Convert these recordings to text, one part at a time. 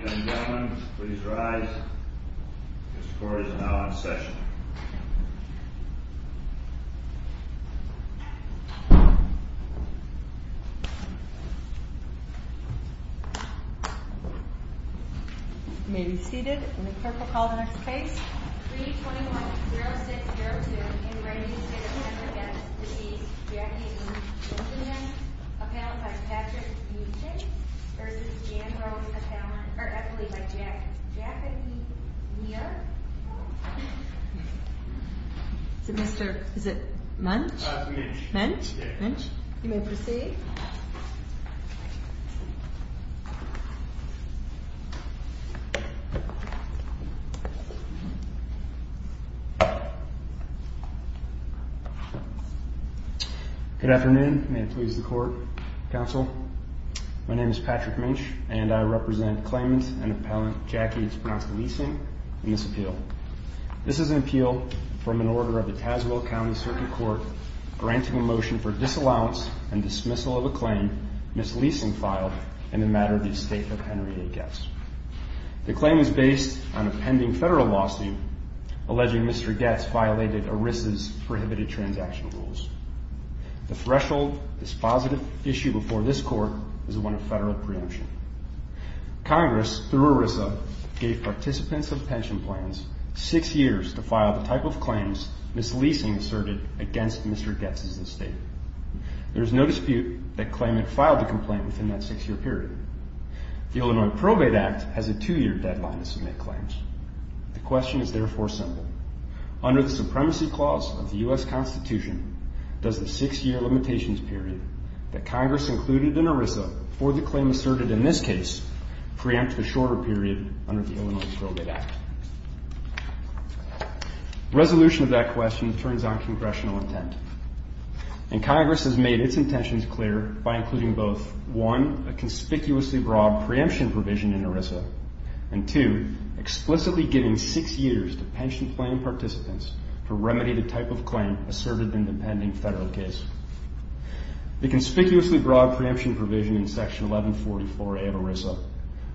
Ladies and gentlemen, please rise. This court is now in session. Maybe seated in the purple. Call the next case 3 21 0 6 0 2 in writing. Yeah. Yeah. Yeah. Yeah. Mr Is it munch? Munch? Munch? You may proceed. Oh, good afternoon. May it please the court counsel. My name is Patrick Munch and I represent claimant and appellant Jackie. It's pronounced leasing in this appeal. This is an appeal from an order of the Tazewell County Circuit Court granting a motion for disallowance and dismissal of a claim. Miss leasing filed in the matter of the estate of Henry Hicks. The claim is based on a pending federal lawsuit alleging Mr Getz violated a risk is prohibited transaction rules. The threshold is positive issue before this court is one of federal preemption. Congress through Arisa gave participants of pension plans six years to file the type of claims Miss leasing asserted against Mr Getz's estate. There's no dispute that claimant filed a complaint within that six year period. The Illinois Probate Act has a two year deadline to submit claims. The question is therefore simple. Under the supremacy clause of the U. S. Constitution does the six year limitations period that Congress included in Arisa for the claim asserted in this case preempt the shorter period under the Illinois Probate Act resolution of that question turns on congressional intent, and Congress has made its intentions clear by including both one a conspicuously broad preemption provision in Arisa and two, explicitly giving six years to pension plan participants to remedy the type of claim asserted in the pending federal case. The conspicuously broad preemption provision in Section 1144A of Arisa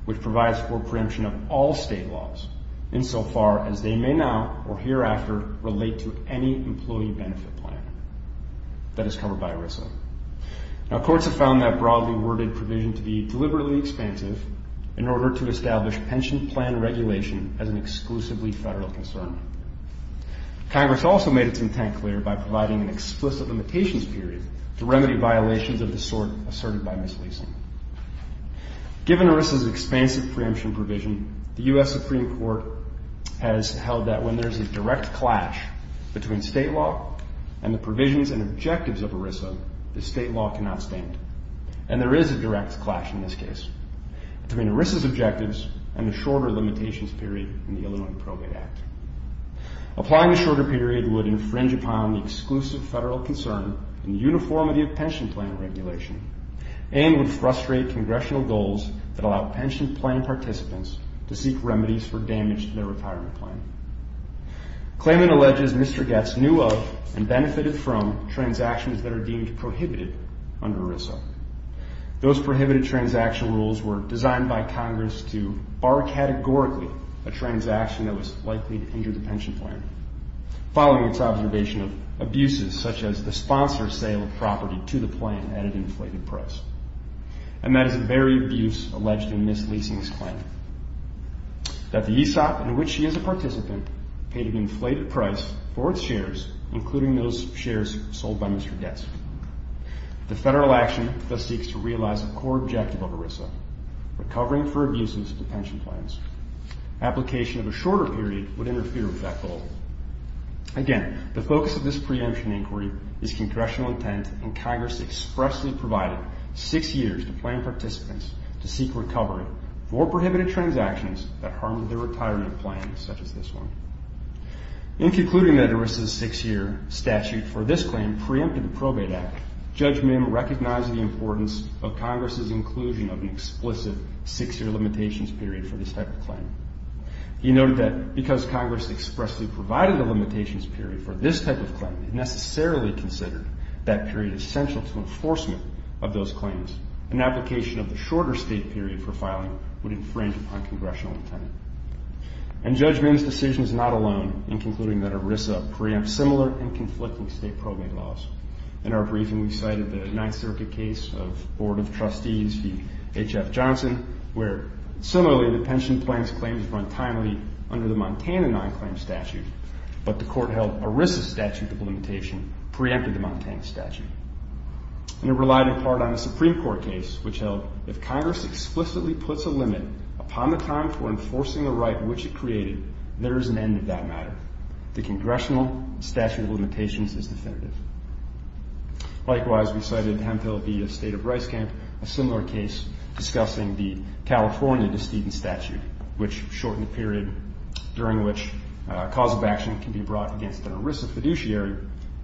which provides for preemption of all state laws in so far as they may now or hereafter relate to any employee benefit plan that is covered by Arisa. Now courts have found that broadly worded provision to be deliberately expansive in order to establish pension plan regulation as an exclusively federal concern. Congress also made its intent clear by providing an explicit limitations period to remedy violations of the sort asserted by misleasing. Given Arisa's expansive preemption provision, the U. S. Supreme Court has held that when there's a direct clash between state law and the provisions and objectives of Arisa, the state law cannot stand. And there is a direct clash in this case between Arisa's objectives and the shorter limitations period in the Illinois Appropriate Act. Applying the shorter period would infringe upon the exclusive federal concern in uniformity of pension plan regulation and would frustrate congressional goals that allow pension plan participants to seek remedies for damage to their retirement plan. Claimant alleges Mr. Getz knew of and benefited from transactions that are deemed prohibited under Arisa. Those prohibited transaction rules were designed by Congress to bar categorically a transaction that was likely to injure the pension plan following its observation of abuses such as the sponsor sale of property to the plan at an inflated price. And that is a very abuse alleged in misleasing this plan. That the ESOP in which he is a participant paid an inflated price for its shares sold by Mr. Getz. The federal action thus seeks to realize a core objective of Arisa, recovering for abuses to pension plans. Application of a shorter period would interfere with that goal. Again, the focus of this preemption inquiry is congressional intent and Congress expressly provided six years to plan participants to seek recovery for prohibited transactions that harmed the retirement plan such as this one. In concluding that Arisa's six-year statute for this claim preempted the probate act, Judge Mim recognized the importance of Congress's inclusion of an explicit six-year limitations period for this type of claim. He noted that because Congress expressly provided a limitations period for this type of claim, it necessarily considered that period essential to enforcement of those claims. An application of the shorter state period for filing would infringe on congressional intent. And Judge Mim's decision is not alone in concluding that Arisa preempts similar and conflicting state probate laws. In our briefing we cited the Ninth Circuit case of Board of Trustees v. H.F. Johnson where similarly the pension plans claims run timely under the Montana non-claim statute, but the court held Arisa's statute of limitation preempted the Montana statute. And it relied in part on a Supreme Court case which held if Congress explicitly puts a limit upon the time for enforcing the right which it created, there is an end of that matter. The congressional statute of limitations is definitive. Likewise, we cited Hemphill v. the State of Rice Camp, a similar case discussing the California De Steen statute, which shortened the period during which a cause of action can be brought against an Arisa fiduciary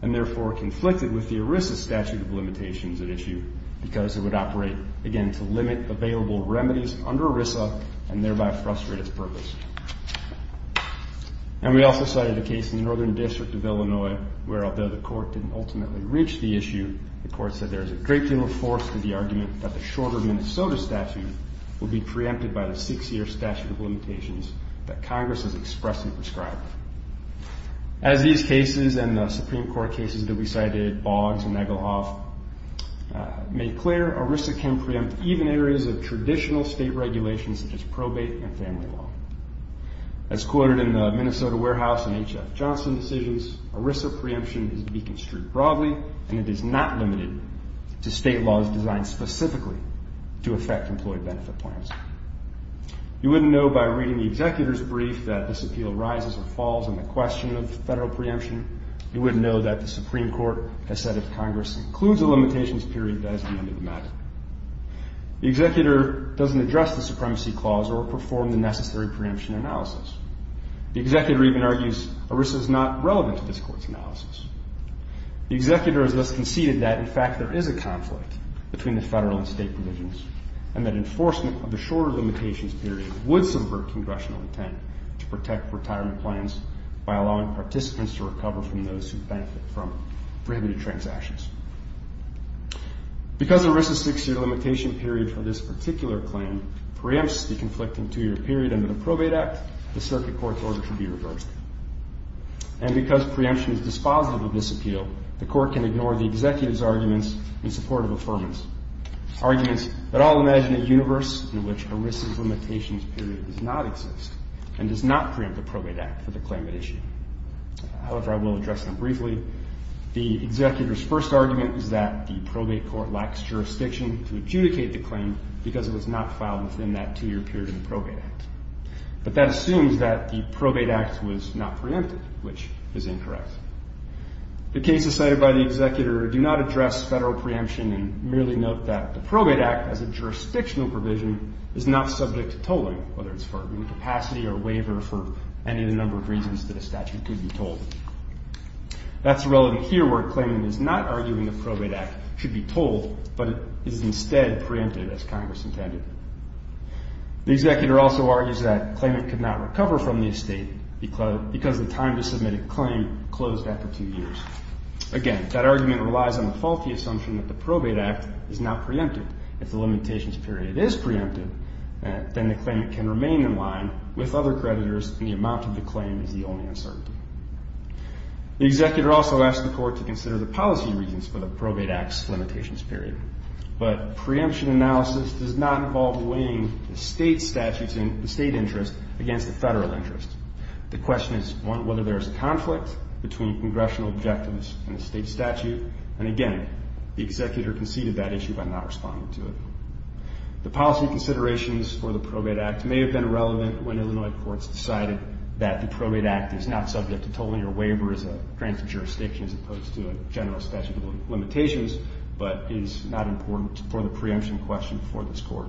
and therefore conflicted with the Arisa statute of limitations at issue because it would operate, again, to limit available remedies under Arisa and thereby frustrate its purpose. And we also cited a case in the Northern District of Illinois where although the court didn't ultimately reach the issue, the court said there is a great deal of force to the argument that the shorter Minnesota statute will be preempted by the six-year statute of limitations that Congress has expressly prescribed. As these cases and the Supreme Court cases that we cited, Boggs and Egelhoff, make clear Arisa can state regulations such as probate and family law. As quoted in the Minnesota Warehouse and H.F. Johnson decisions, Arisa preemption is to be construed broadly and it is not limited to state laws designed specifically to affect employee benefit plans. You wouldn't know by reading the executor's brief that this appeal rises or falls on the question of federal preemption. You wouldn't know that the Supreme Court has said if Congress includes a limitations period, that is the end of the matter. The executor doesn't address the supremacy clause or perform the necessary preemption analysis. The executor even argues Arisa is not relevant to this court's analysis. The executor has thus conceded that, in fact, there is a conflict between the federal and state provisions and that enforcement of the shorter limitations period would subvert congressional intent to protect retirement plans by allowing participants to recover from those who benefit from prohibited transactions. Because Arisa's six-year limitation period for this particular claim preempts the conflicting two-year period under the Probate Act, the circuit court's order should be reversed. And because preemption is dispositive of this appeal, the court can ignore the executive's arguments in support of affirmance, arguments that all imagine a universe in which Arisa's limitations period does not exist and does not preempt the Probate Act for the claim issue. However, I will address them briefly. The executor's first argument is that the probate court lacks jurisdiction to adjudicate the claim because it was not filed within that two-year period in the Probate Act. But that assumes that the Probate Act was not preempted, which is incorrect. The cases cited by the executor do not address federal preemption and merely note that the Probate Act as a jurisdictional provision is not subject to tolling, whether it's for incapacity or waiver for any of the number of instances that a statute could be tolled. That's relevant here where a claimant is not arguing the Probate Act should be tolled, but it is instead preempted as Congress intended. The executor also argues that claimant could not recover from the estate because the time to submit a claim closed after two years. Again, that argument relies on the faulty assumption that the Probate Act is not preempted. If the limitations period is preempted, then the claimant can remain in line with other creditors and the amount of the claim is the only uncertainty. The executor also asks the court to consider the policy reasons for the Probate Act's limitations period, but preemption analysis does not involve weighing the state statutes and the state interest against the federal interest. The question is whether there's a conflict between congressional objectives and the state statute, and again, the executor conceded that issue by not responding to it. The policy considerations for the Probate Act may have been relevant when Illinois courts decided that the Probate Act is not subject to tolling or waiver as a granted jurisdiction as opposed to a general statute of limitations, but is not important for the preemption question for this court.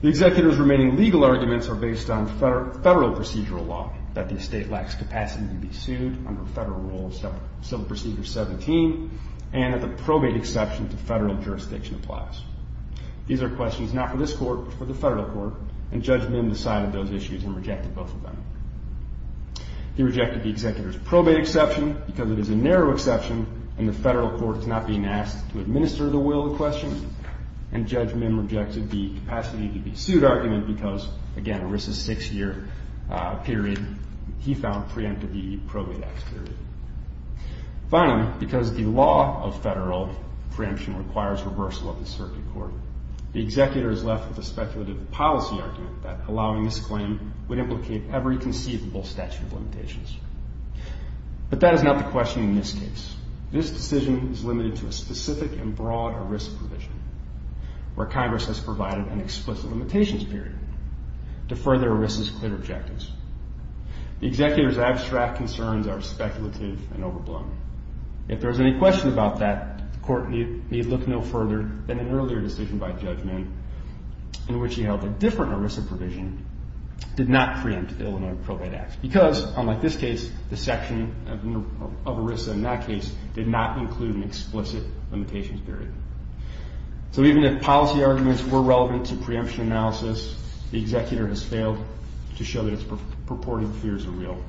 The executor's remaining legal arguments are based on federal procedural law, that the estate lacks capacity to be sued under Federal Rule Civil Procedure 17, and that the probate exception to federal jurisdiction applies. These are questions not for this court, but for the federal court, and Judge Mim decided those issues and rejected both of them. He rejected the executor's probate exception because it is a narrow exception and the federal court is not being asked to administer the will to question, and Judge Mim rejected the capacity to be sued argument because, again, it risks a six-year period. He found preempted the Probate Act period. Finally, because the law of federal preemption requires reversal of the circuit court, the executor is left with a speculative policy argument that allowing this claim would implicate every conceivable statute of limitations, but that is not the question in this case. This decision is limited to a specific and broad ERISA provision, where Congress has provided an explicit limitations period to further ERISA's clear objectives. The executor's abstract concerns are speculative and overblown. If there is any question about that, the court need look no further than an earlier decision by Judge Mim in which he held a different ERISA provision did not preempt Illinois Probate Act because, unlike this case, the section of ERISA in that case did not include an explicit limitations period. So even if policy arguments were relevant to preemption analysis, the executor is left to show that his purported fears are real.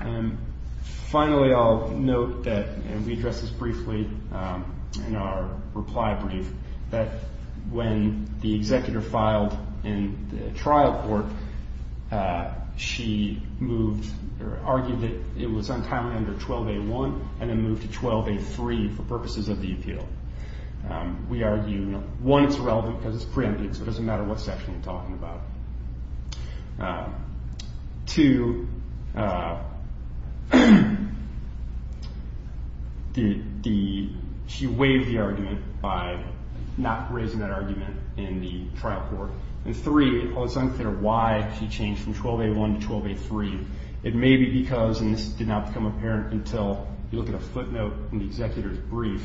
And finally, I'll note that, and we addressed this briefly in our reply brief, that when the executor filed in the trial court, she moved or argued that it was untimely under 12A1 and then moved to 12A3 for purposes of the appeal. We argue, one, it's relevant because it's preempted, so it doesn't matter what section you're in. Two, she waived the argument by not raising that argument in the trial court. And three, while it's unclear why she changed from 12A1 to 12A3, it may be because, and this did not become apparent until you look at a footnote in the executor's brief,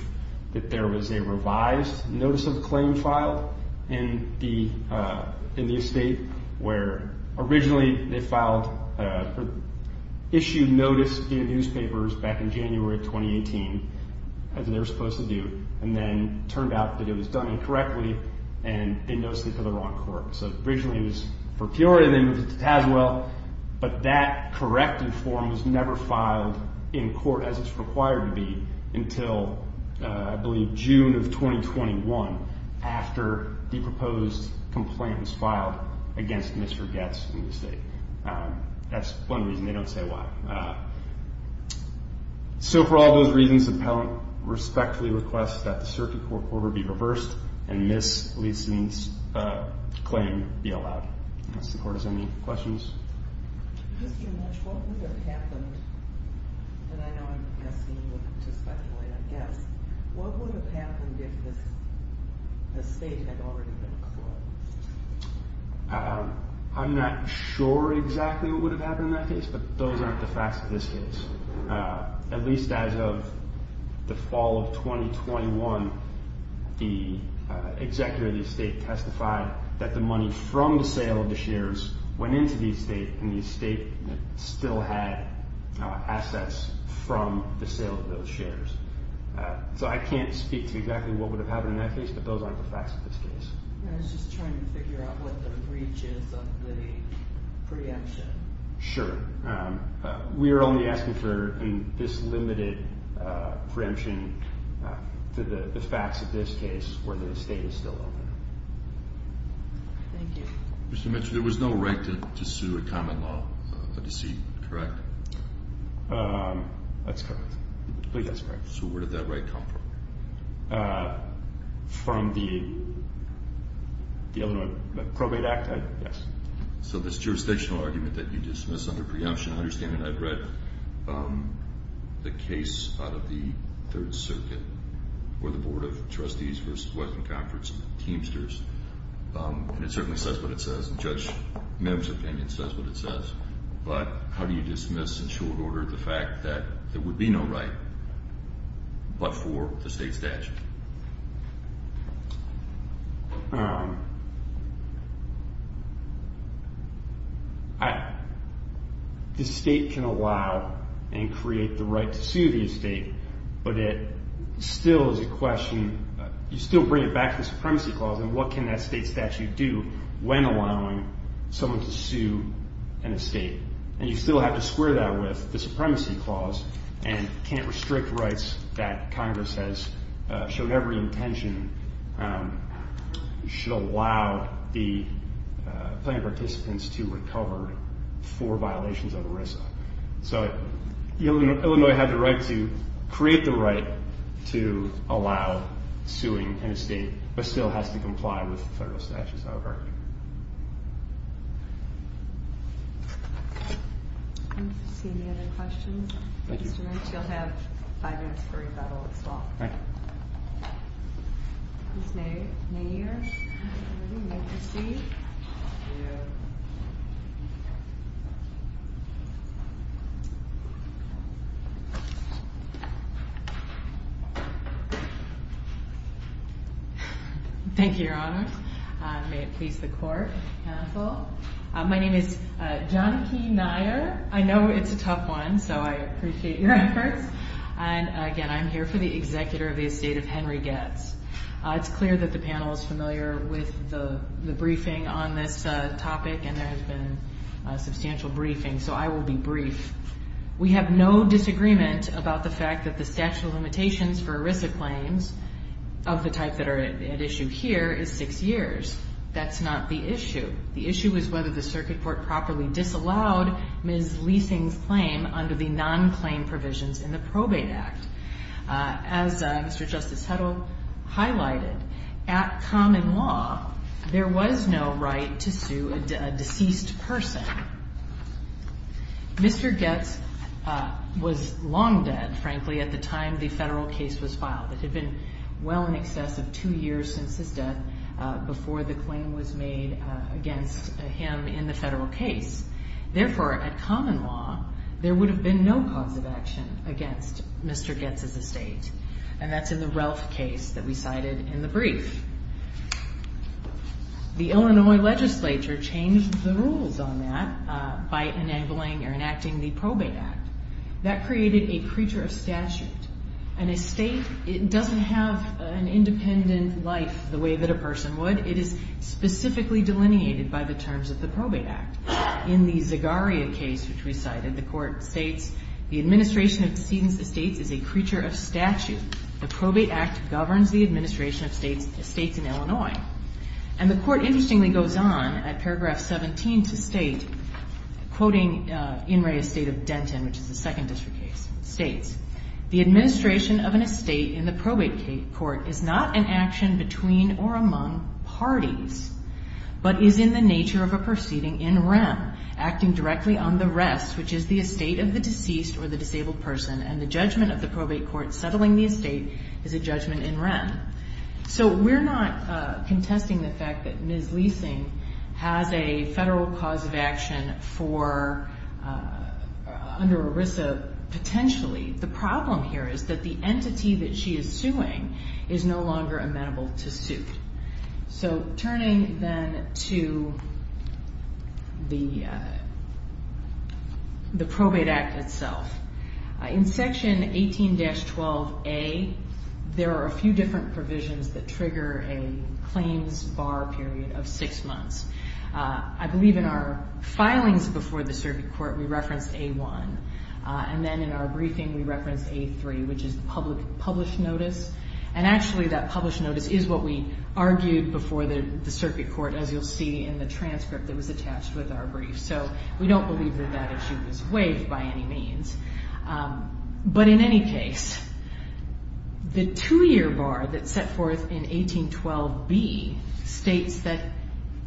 that there was a revised notice of claim filed in the state, where originally they filed, issued notice in newspapers back in January 2018, as they were supposed to do, and then turned out that it was done incorrectly and in no sleep of the wrong court. So originally it was for Peoria, then moved to Tazewell, but that corrective form was never filed in court as it's required to be until, I believe, June of 2021, after the proposed complaint was filed against Mr. Goetz in the state. That's one reason they don't say why. So for all those reasons, the appellant respectfully requests that the circuit court order be reversed and Ms. Leeson's claim be allowed. Does the court have any questions? Mr. Mutch, what would have happened, and I know I'm guessing, to speculate, I guess, what would have happened if the state had already been closed? I'm not sure exactly what would have happened in that case, but those aren't the facts of this case. At least as of the fall of 2021, the executor of the shares went into the state, and the state still had assets from the sale of those shares. So I can't speak to exactly what would have happened in that case, but those aren't the facts of this case. I was just trying to figure out what the breach is of the preemption. Sure. We are only asking for this limited preemption to the facts of this case, where the state is still open. Thank you. Mr. Mutch, there was no right to sue a common law, a deceit, correct? That's correct. I believe that's correct. So where did that right come from? From the Illinois Probate Act, yes. So this jurisdictional argument that you dismiss under preemption, I understand that I've read the case out of the And it certainly says what it says, and Judge Mims' opinion says what it says. But how do you dismiss, in short order, the fact that there would be no right but for the state statute? The state can allow and create the right to sue the estate, but it still is a and what can that state statute do when allowing someone to sue an estate? And you still have to square that with the supremacy clause and can't restrict rights that Congress has shown every intention should allow the plaintiff participants to recover for violations of ERISA. So Illinois had the right to create the right to allow suing an estate, but still has to comply with federal statutes, however. Any other questions? Mr. Mutch, you'll have five minutes for rebuttal as well. Thank you. Thank you, Your Honors. May it please the Court and the Counsel. My name is I know it's a tough one, so I appreciate your efforts. And again, I'm here for the It's clear that the panel is familiar with the briefing on this topic, and there has been substantial briefing, so I will be brief. We have no disagreement about the fact that the statute of limitations for ERISA claims of the type that are at issue here is six years. That's not the issue. The issue is whether the Circuit Court properly disallowed Ms. Leesing's claim under the non-claim provisions in the Probate Act. As Mr. Justice Heddle highlighted, at common law, there was no right to sue a deceased person. Mr. Goetz was long dead, frankly, at the time the federal case was filed. It had been well in excess of two years since his death before the claim was made against him in the federal case. Therefore, at common law, there would have been no cause of action against Mr. Goetz's estate. And that's in the Relf case that we cited in the brief. The Illinois legislature changed the rules on that by enacting the Probate Act. That created a creature of statute. An estate doesn't have an independent life the way that a person would. It is specifically delineated by the terms of the Probate Act. In the Zegaria case, which we cited, the court states, the administration of deceased estates is a creature of statute. The Probate Act governs the administration of estates in Illinois. And the court, interestingly, goes on at paragraph 17 to state, quoting In re estate of Denton, which is a Second District case, states, the administration of an estate in the Probate Court is not an action between or among parties, but is in the nature of a proceeding in rem, acting directly on the rest, which is the estate is a judgment in rem. So we're not contesting the fact that Ms. Leesing has a federal cause of action for under ERISA potentially. The problem here is that the entity that she is suing is no longer amenable to suit. So turning then to the index 12A, there are a few different provisions that trigger a claims bar period of six months. I believe in our filings before the circuit court, we referenced A1. And then in our briefing, we referenced A3, which is the published notice. And actually, that published notice is what we argued before the circuit court, as you'll see in the transcript that was attached with our brief. So we don't believe that that issue was waived by any means. But in any case, the two-year bar that's set forth in 1812B states that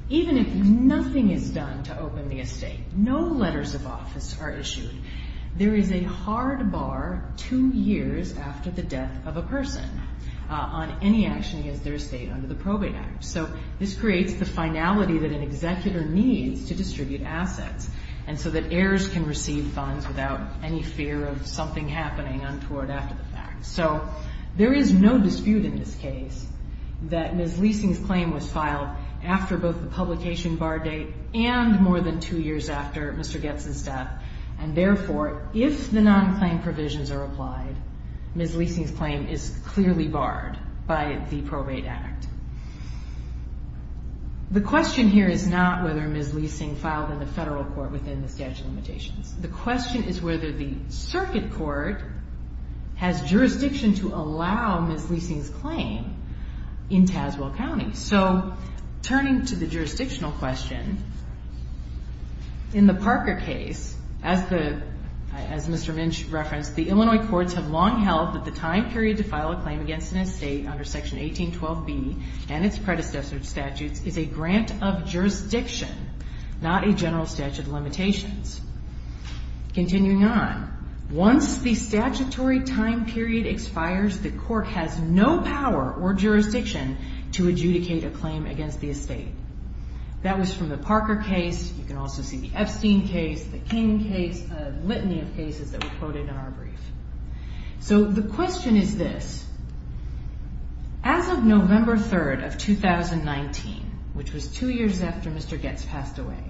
even if nothing is done to open the estate, no letters of office are issued, there is a hard bar two years after the death of a person on any action against their estate under the Probate Act. So this creates the finality that an entity can receive funds without any fear of something happening untoward after the fact. So there is no dispute in this case that Ms. Leesing's claim was filed after both the publication bar date and more than two years after Mr. Goetz's death. And therefore, if the non-claim provisions are applied, Ms. Leesing's claim is clearly barred by the Probate Act. The question here is not whether Ms. Leesing filed in the past. The question is whether the circuit court has jurisdiction to allow Ms. Leesing's claim in Tazewell County. So turning to the jurisdictional question, in the Parker case, as Mr. Minch referenced, the Illinois courts have long held that the time period to file a claim against an estate under Section 1812B and its predecessor statutes is a grant of jurisdiction, not a general statute of limitations. Continuing on, once the statutory time period expires, the court has no power or jurisdiction to adjudicate a claim against the estate. That was from the Parker case. You can also see the Epstein case, the King case, a litany of cases that were quoted in our brief. So the question is this. As of two years after Mr. Goetz passed away,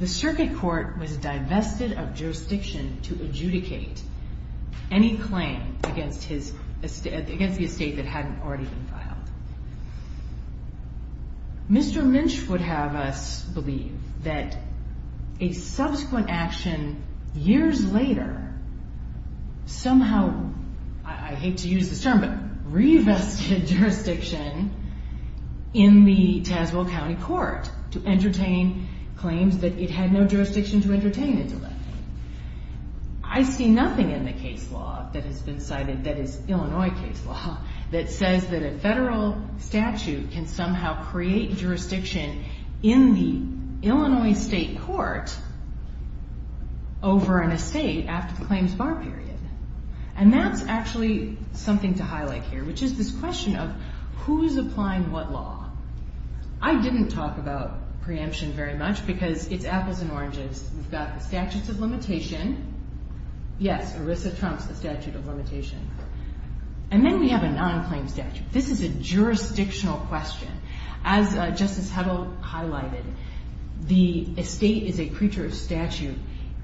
the circuit court was divested of jurisdiction to adjudicate any claim against the estate that hadn't already been filed. Mr. Minch would have us believe that a subsequent action years later somehow, I hate to use this term, but the Tazewell County Court to entertain claims that it had no jurisdiction to entertain until then. I see nothing in the case law that has been cited that is Illinois case law that says that a federal statute can somehow create jurisdiction in the Illinois state court over an estate after the claims bar period. And that's actually something to highlight here, which is this case law. I didn't talk about preemption very much because it's apples and oranges. We've got the statutes of limitation. Yes, ERISA trumps the statute of limitation. And then we have a non-claim statute. This is a jurisdictional question. As Justice Hebbel highlighted, the estate is a creature of statute.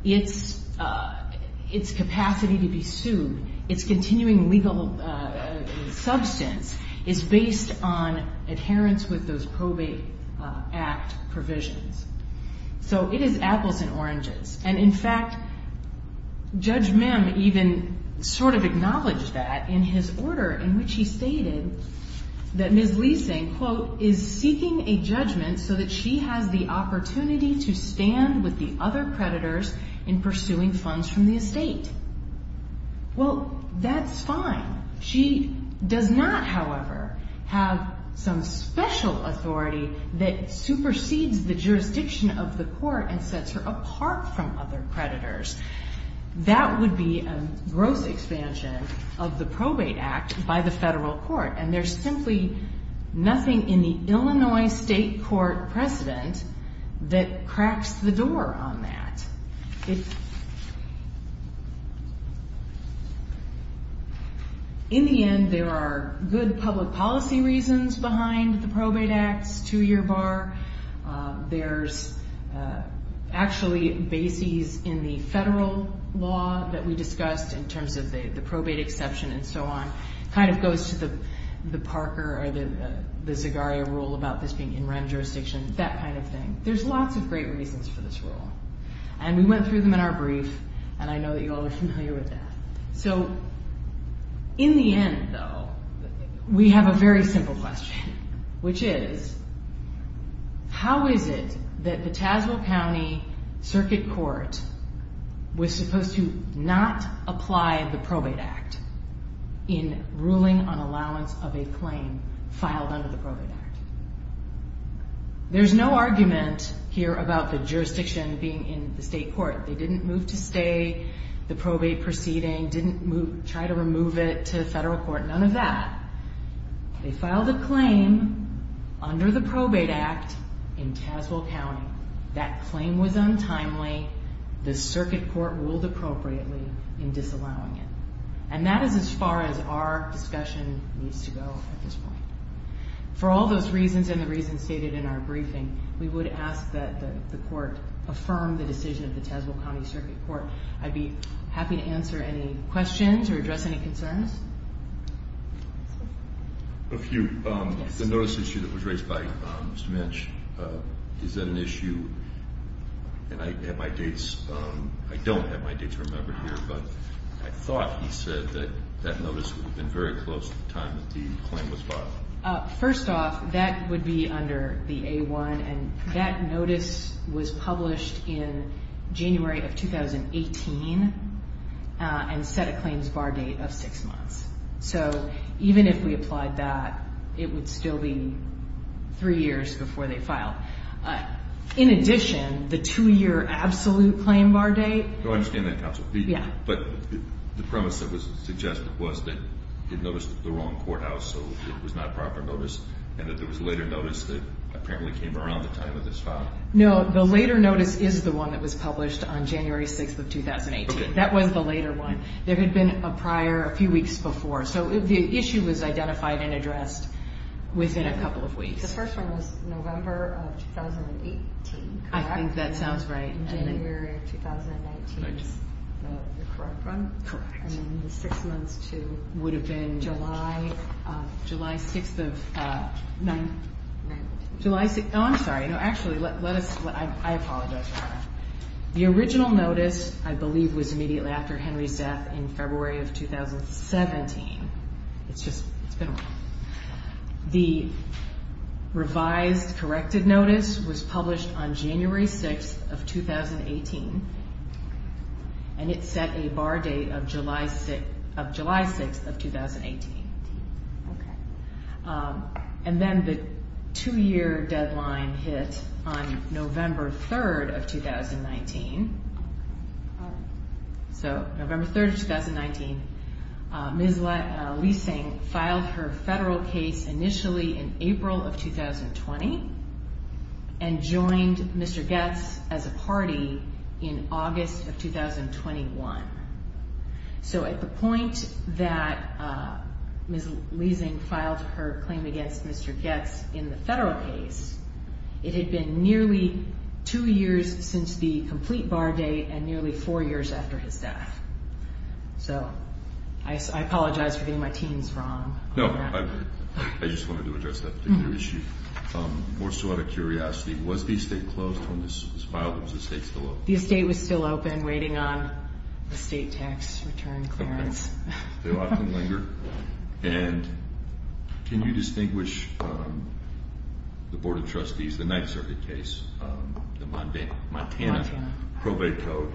Its capacity to be sued, its continuing legal substance is based on adherence with those probate act provisions. So it is apples and oranges. And in fact, Judge Mim even sort of acknowledged that in his order in which he stated that Ms. Leesing, quote, is seeking a judgment so that she has the opportunity to stand with the other creditors in pursuing funds from the estate. Well, that's fine. She does not, however, have some special authority that supersedes the jurisdiction of the court and sets her apart from other creditors. That would be a gross expansion of the probate act by the federal court. And there's simply nothing in the Illinois state court precedent that cracks the door on that. In the end, there are good public policy reasons behind the probate act's two-year bar. There's actually bases in the federal law that we discussed in terms of the probate exception and so on. Kind of goes to the Parker or the Zegaria rule about this being in REM jurisdiction, that kind of thing. There's lots of great reasons for this rule. And we went through them in our brief, and I know that you all are familiar with that. So in the end, though, we have a very simple question, which is, how is it that the Tazewell County Circuit Court was supposed to not apply the probate act in ruling on allowance of a claim filed under the probate act? There's no argument here about the probate proceeding in the state court. They didn't move to stay the probate proceeding, didn't try to remove it to the federal court, none of that. They filed a claim under the probate act in Tazewell County. That claim was untimely. The circuit court ruled appropriately in disallowing it. And that is as far as our discussion needs to go at this point. For all those reasons and the reasons stated in our briefing, we would ask that the court affirm the decision of the Tazewell County Circuit Court. I'd be happy to answer any questions or address any concerns. A few. The notice issue that was raised by Mr. Minch, is that an issue, and I have my dates, I don't have my dates remembered here, but I thought he said that that notice would have been very close at the time that the claim was filed. First off, that would be under the A-1, and that notice was published in January of 2018, and set a claims bar date of six months. So even if we applied that, it would still be three years before they filed. In addition, the two-year absolute claim bar date. I understand that, Counsel. But the premise that was suggested was that it noticed the wrong courthouse, so it was not proper notice, and that there was later notice that apparently came around the time of this file? No, the later notice is the one that was published on January 6th of 2018. That was the later one. There had been a prior, a few weeks before. So the issue was identified and addressed within a couple of weeks. The first one was November of 2018, correct? I think that sounds right. And then January of 2019 is the correct one? Correct. And then the six months to July 6th of 2019. I'm sorry. Actually, I apologize for that. The original notice, I believe, was immediately after Henry's death in February of 2017. It's been a while. The revised corrected notice was published on January 6th of 2018, and it set a bar date of six months from July 6th of 2018. And then the two-year deadline hit on November 3rd of 2019. So November 3rd of 2019, Ms. Leesing filed her federal case initially in April of 2020 and joined Mr. Goetz as a party in August of 2021. So at the point that Ms. Leesing filed her claim against Mr. Goetz in the federal case, it had been nearly two years since the complete bar date and nearly four years after his death. So I apologize for getting my teams wrong. No, I just wanted to address that particular issue. We're still out of curiosity. Was the estate closed when this was filed? The estate was still open, waiting on the state tax return clearance. Okay. They often linger. And can you distinguish the Board of Trustees, the Ninth Circuit case, the Montana probate code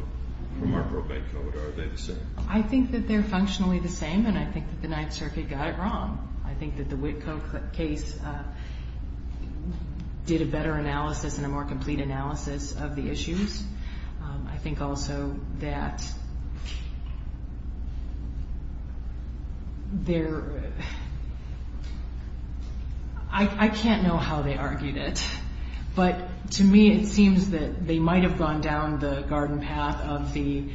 from our probate code? Are they the same? I think that they're functionally the same, and I think that the Ninth Circuit got it wrong. I think that the Board of Trustees had some issues. I think also that they're, I can't know how they argued it, but to me it seems that they might have gone down the garden path of the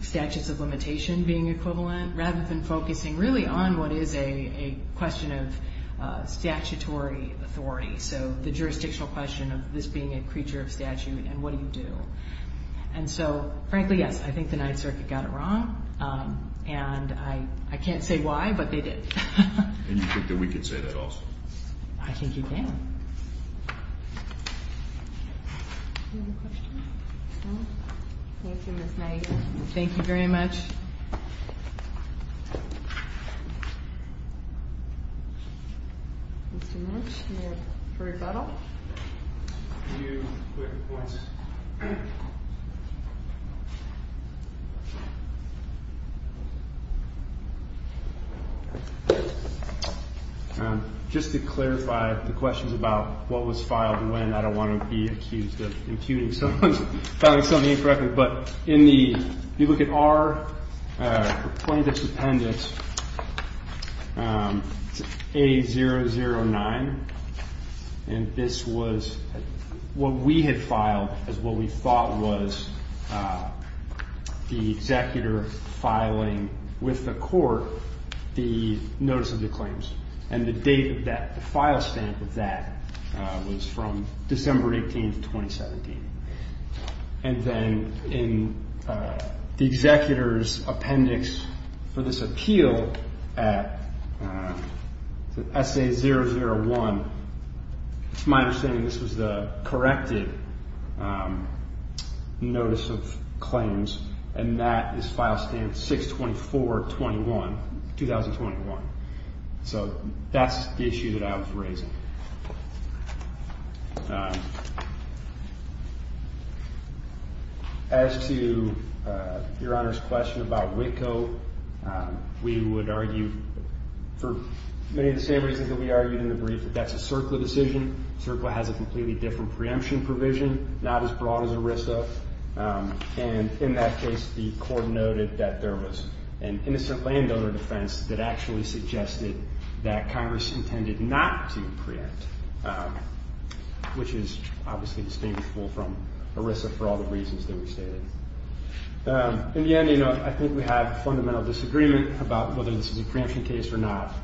statutes of limitation being equivalent rather than focusing really on what is a question of statutory authority. So the question is, what do you do? And so frankly, yes, I think the Ninth Circuit got it wrong. And I can't say why, but they did. And you think that we could say that also? I think you can. Thank you, Ms. Knight. Thank you very much. Thank you very much. Any further rebuttal? A few quick points. Just to clarify the questions about what was filed when, I don't want to be accused of impugning someone's filing something incorrectly, but in the, if you look at our plaintiff's appendix, A009, and this was what we had filed as what we thought was the executor filing with the court the notice of the claims. And the date of that, the file stamp of that was from December 18th, 2017. And then in the executor's appendix for this appeal at SA001, it's my understanding this was the corrected notice of claims, and that is file stamp 62421, 2021. So that's the issue that I was raising. As to Your Honor's question about WITCO, we would argue, for many of the same reasons that we argued in the brief, that that's a CERCLA decision. CERCLA has a completely different preemption provision, not as broad as the federal defense, that actually suggested that Congress intended not to preempt, which is obviously distinguishable from ERISA for all the reasons that we stated. In the end, I think we have fundamental disagreement about whether this is a preemption case or not.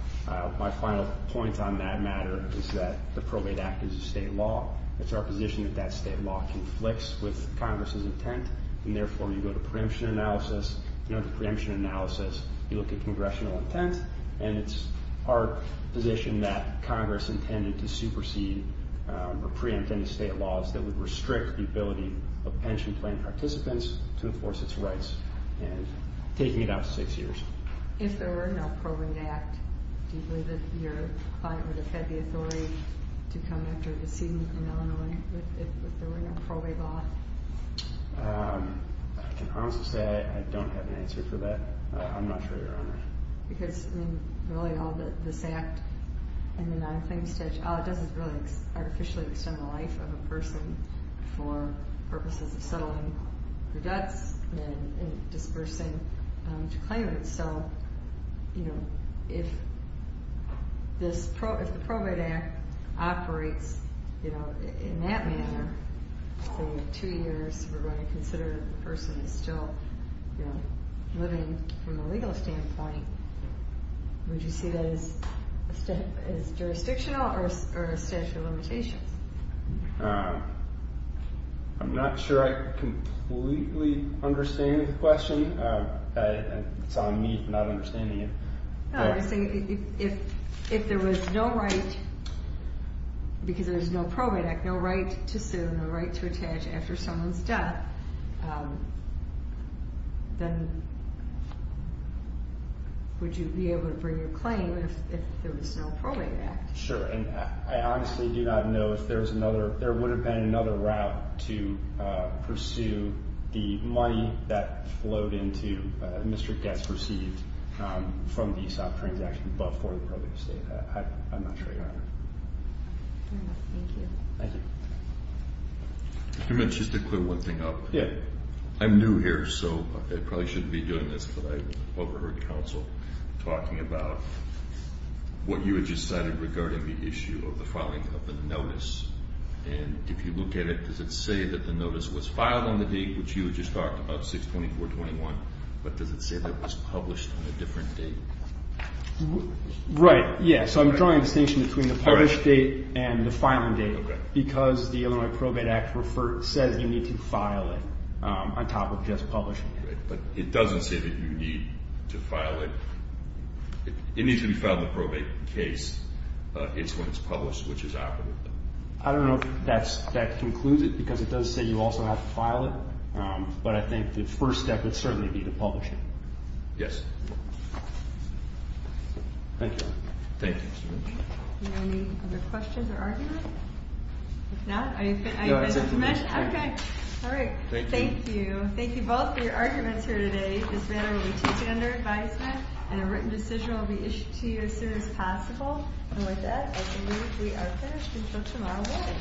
My final point on that matter is that the probate act is a state law. It's our position that that state law conflicts with Congress's intent, and therefore you go to preemption analysis, you go to preemption analysis, you look at congressional intent, and it's our position that Congress intended to supersede or preempt any state laws that would restrict the ability of pension plan participants to enforce its rights and taking it out six years. If there were no probate act, do you believe that your client would have had the authority to come after a decision in Illinois if there were no probate law? I can honestly say I don't have an answer for that. I'm not sure, Your Honor. Because, I mean, really all this act and the non-claims statute, it doesn't really artificially extend the life of a person for purposes of settling their debts and dispersing to claimants. So, you know, if the probate act operates, you know, in that manner, for two years, we're going to consider the person is still, you know, living from a legal standpoint, would you see that as jurisdictional or a statute of limitations? I'm not sure I completely understand the question. It's on me for not understanding it. If there was no right, because there's no probate act, no right to sue, no right to attach after someone's death, then would you be able to bring your claim if there was no probate act? Sure, and I honestly do not know if there's another, there would have been another route to pursue the money that flowed into, Mr. Getz received from the ESOP transaction, but for the probate estate. I'm not sure, Your Honor. Thank you. Just to clear one thing up. I'm new here, so I probably shouldn't be doing this, but I overheard counsel talking about what you had just cited regarding the issue of the filing of the notice, and if you look at it, does it say that the notice was filed on the date, which you had just talked about, 6-24-21, but does it say that it was published on a different date? Right, yeah, so I'm drawing a distinction between the published date and the filing date, because the Illinois Probate Act says you need to file it on top of just publishing it. Right, but it doesn't say that you need to file it. It needs to be filed in the probate case. It's when it's published, which is applicable. I don't know if that concludes it, because it does say you also have to file it, but I think the first step would certainly be to publish it. Yes. Thank you. Thank you both for your arguments here today. This matter will be taken under advisement, and a written decision will be issued to you as soon as possible. And with that, I believe we are finished until tomorrow morning.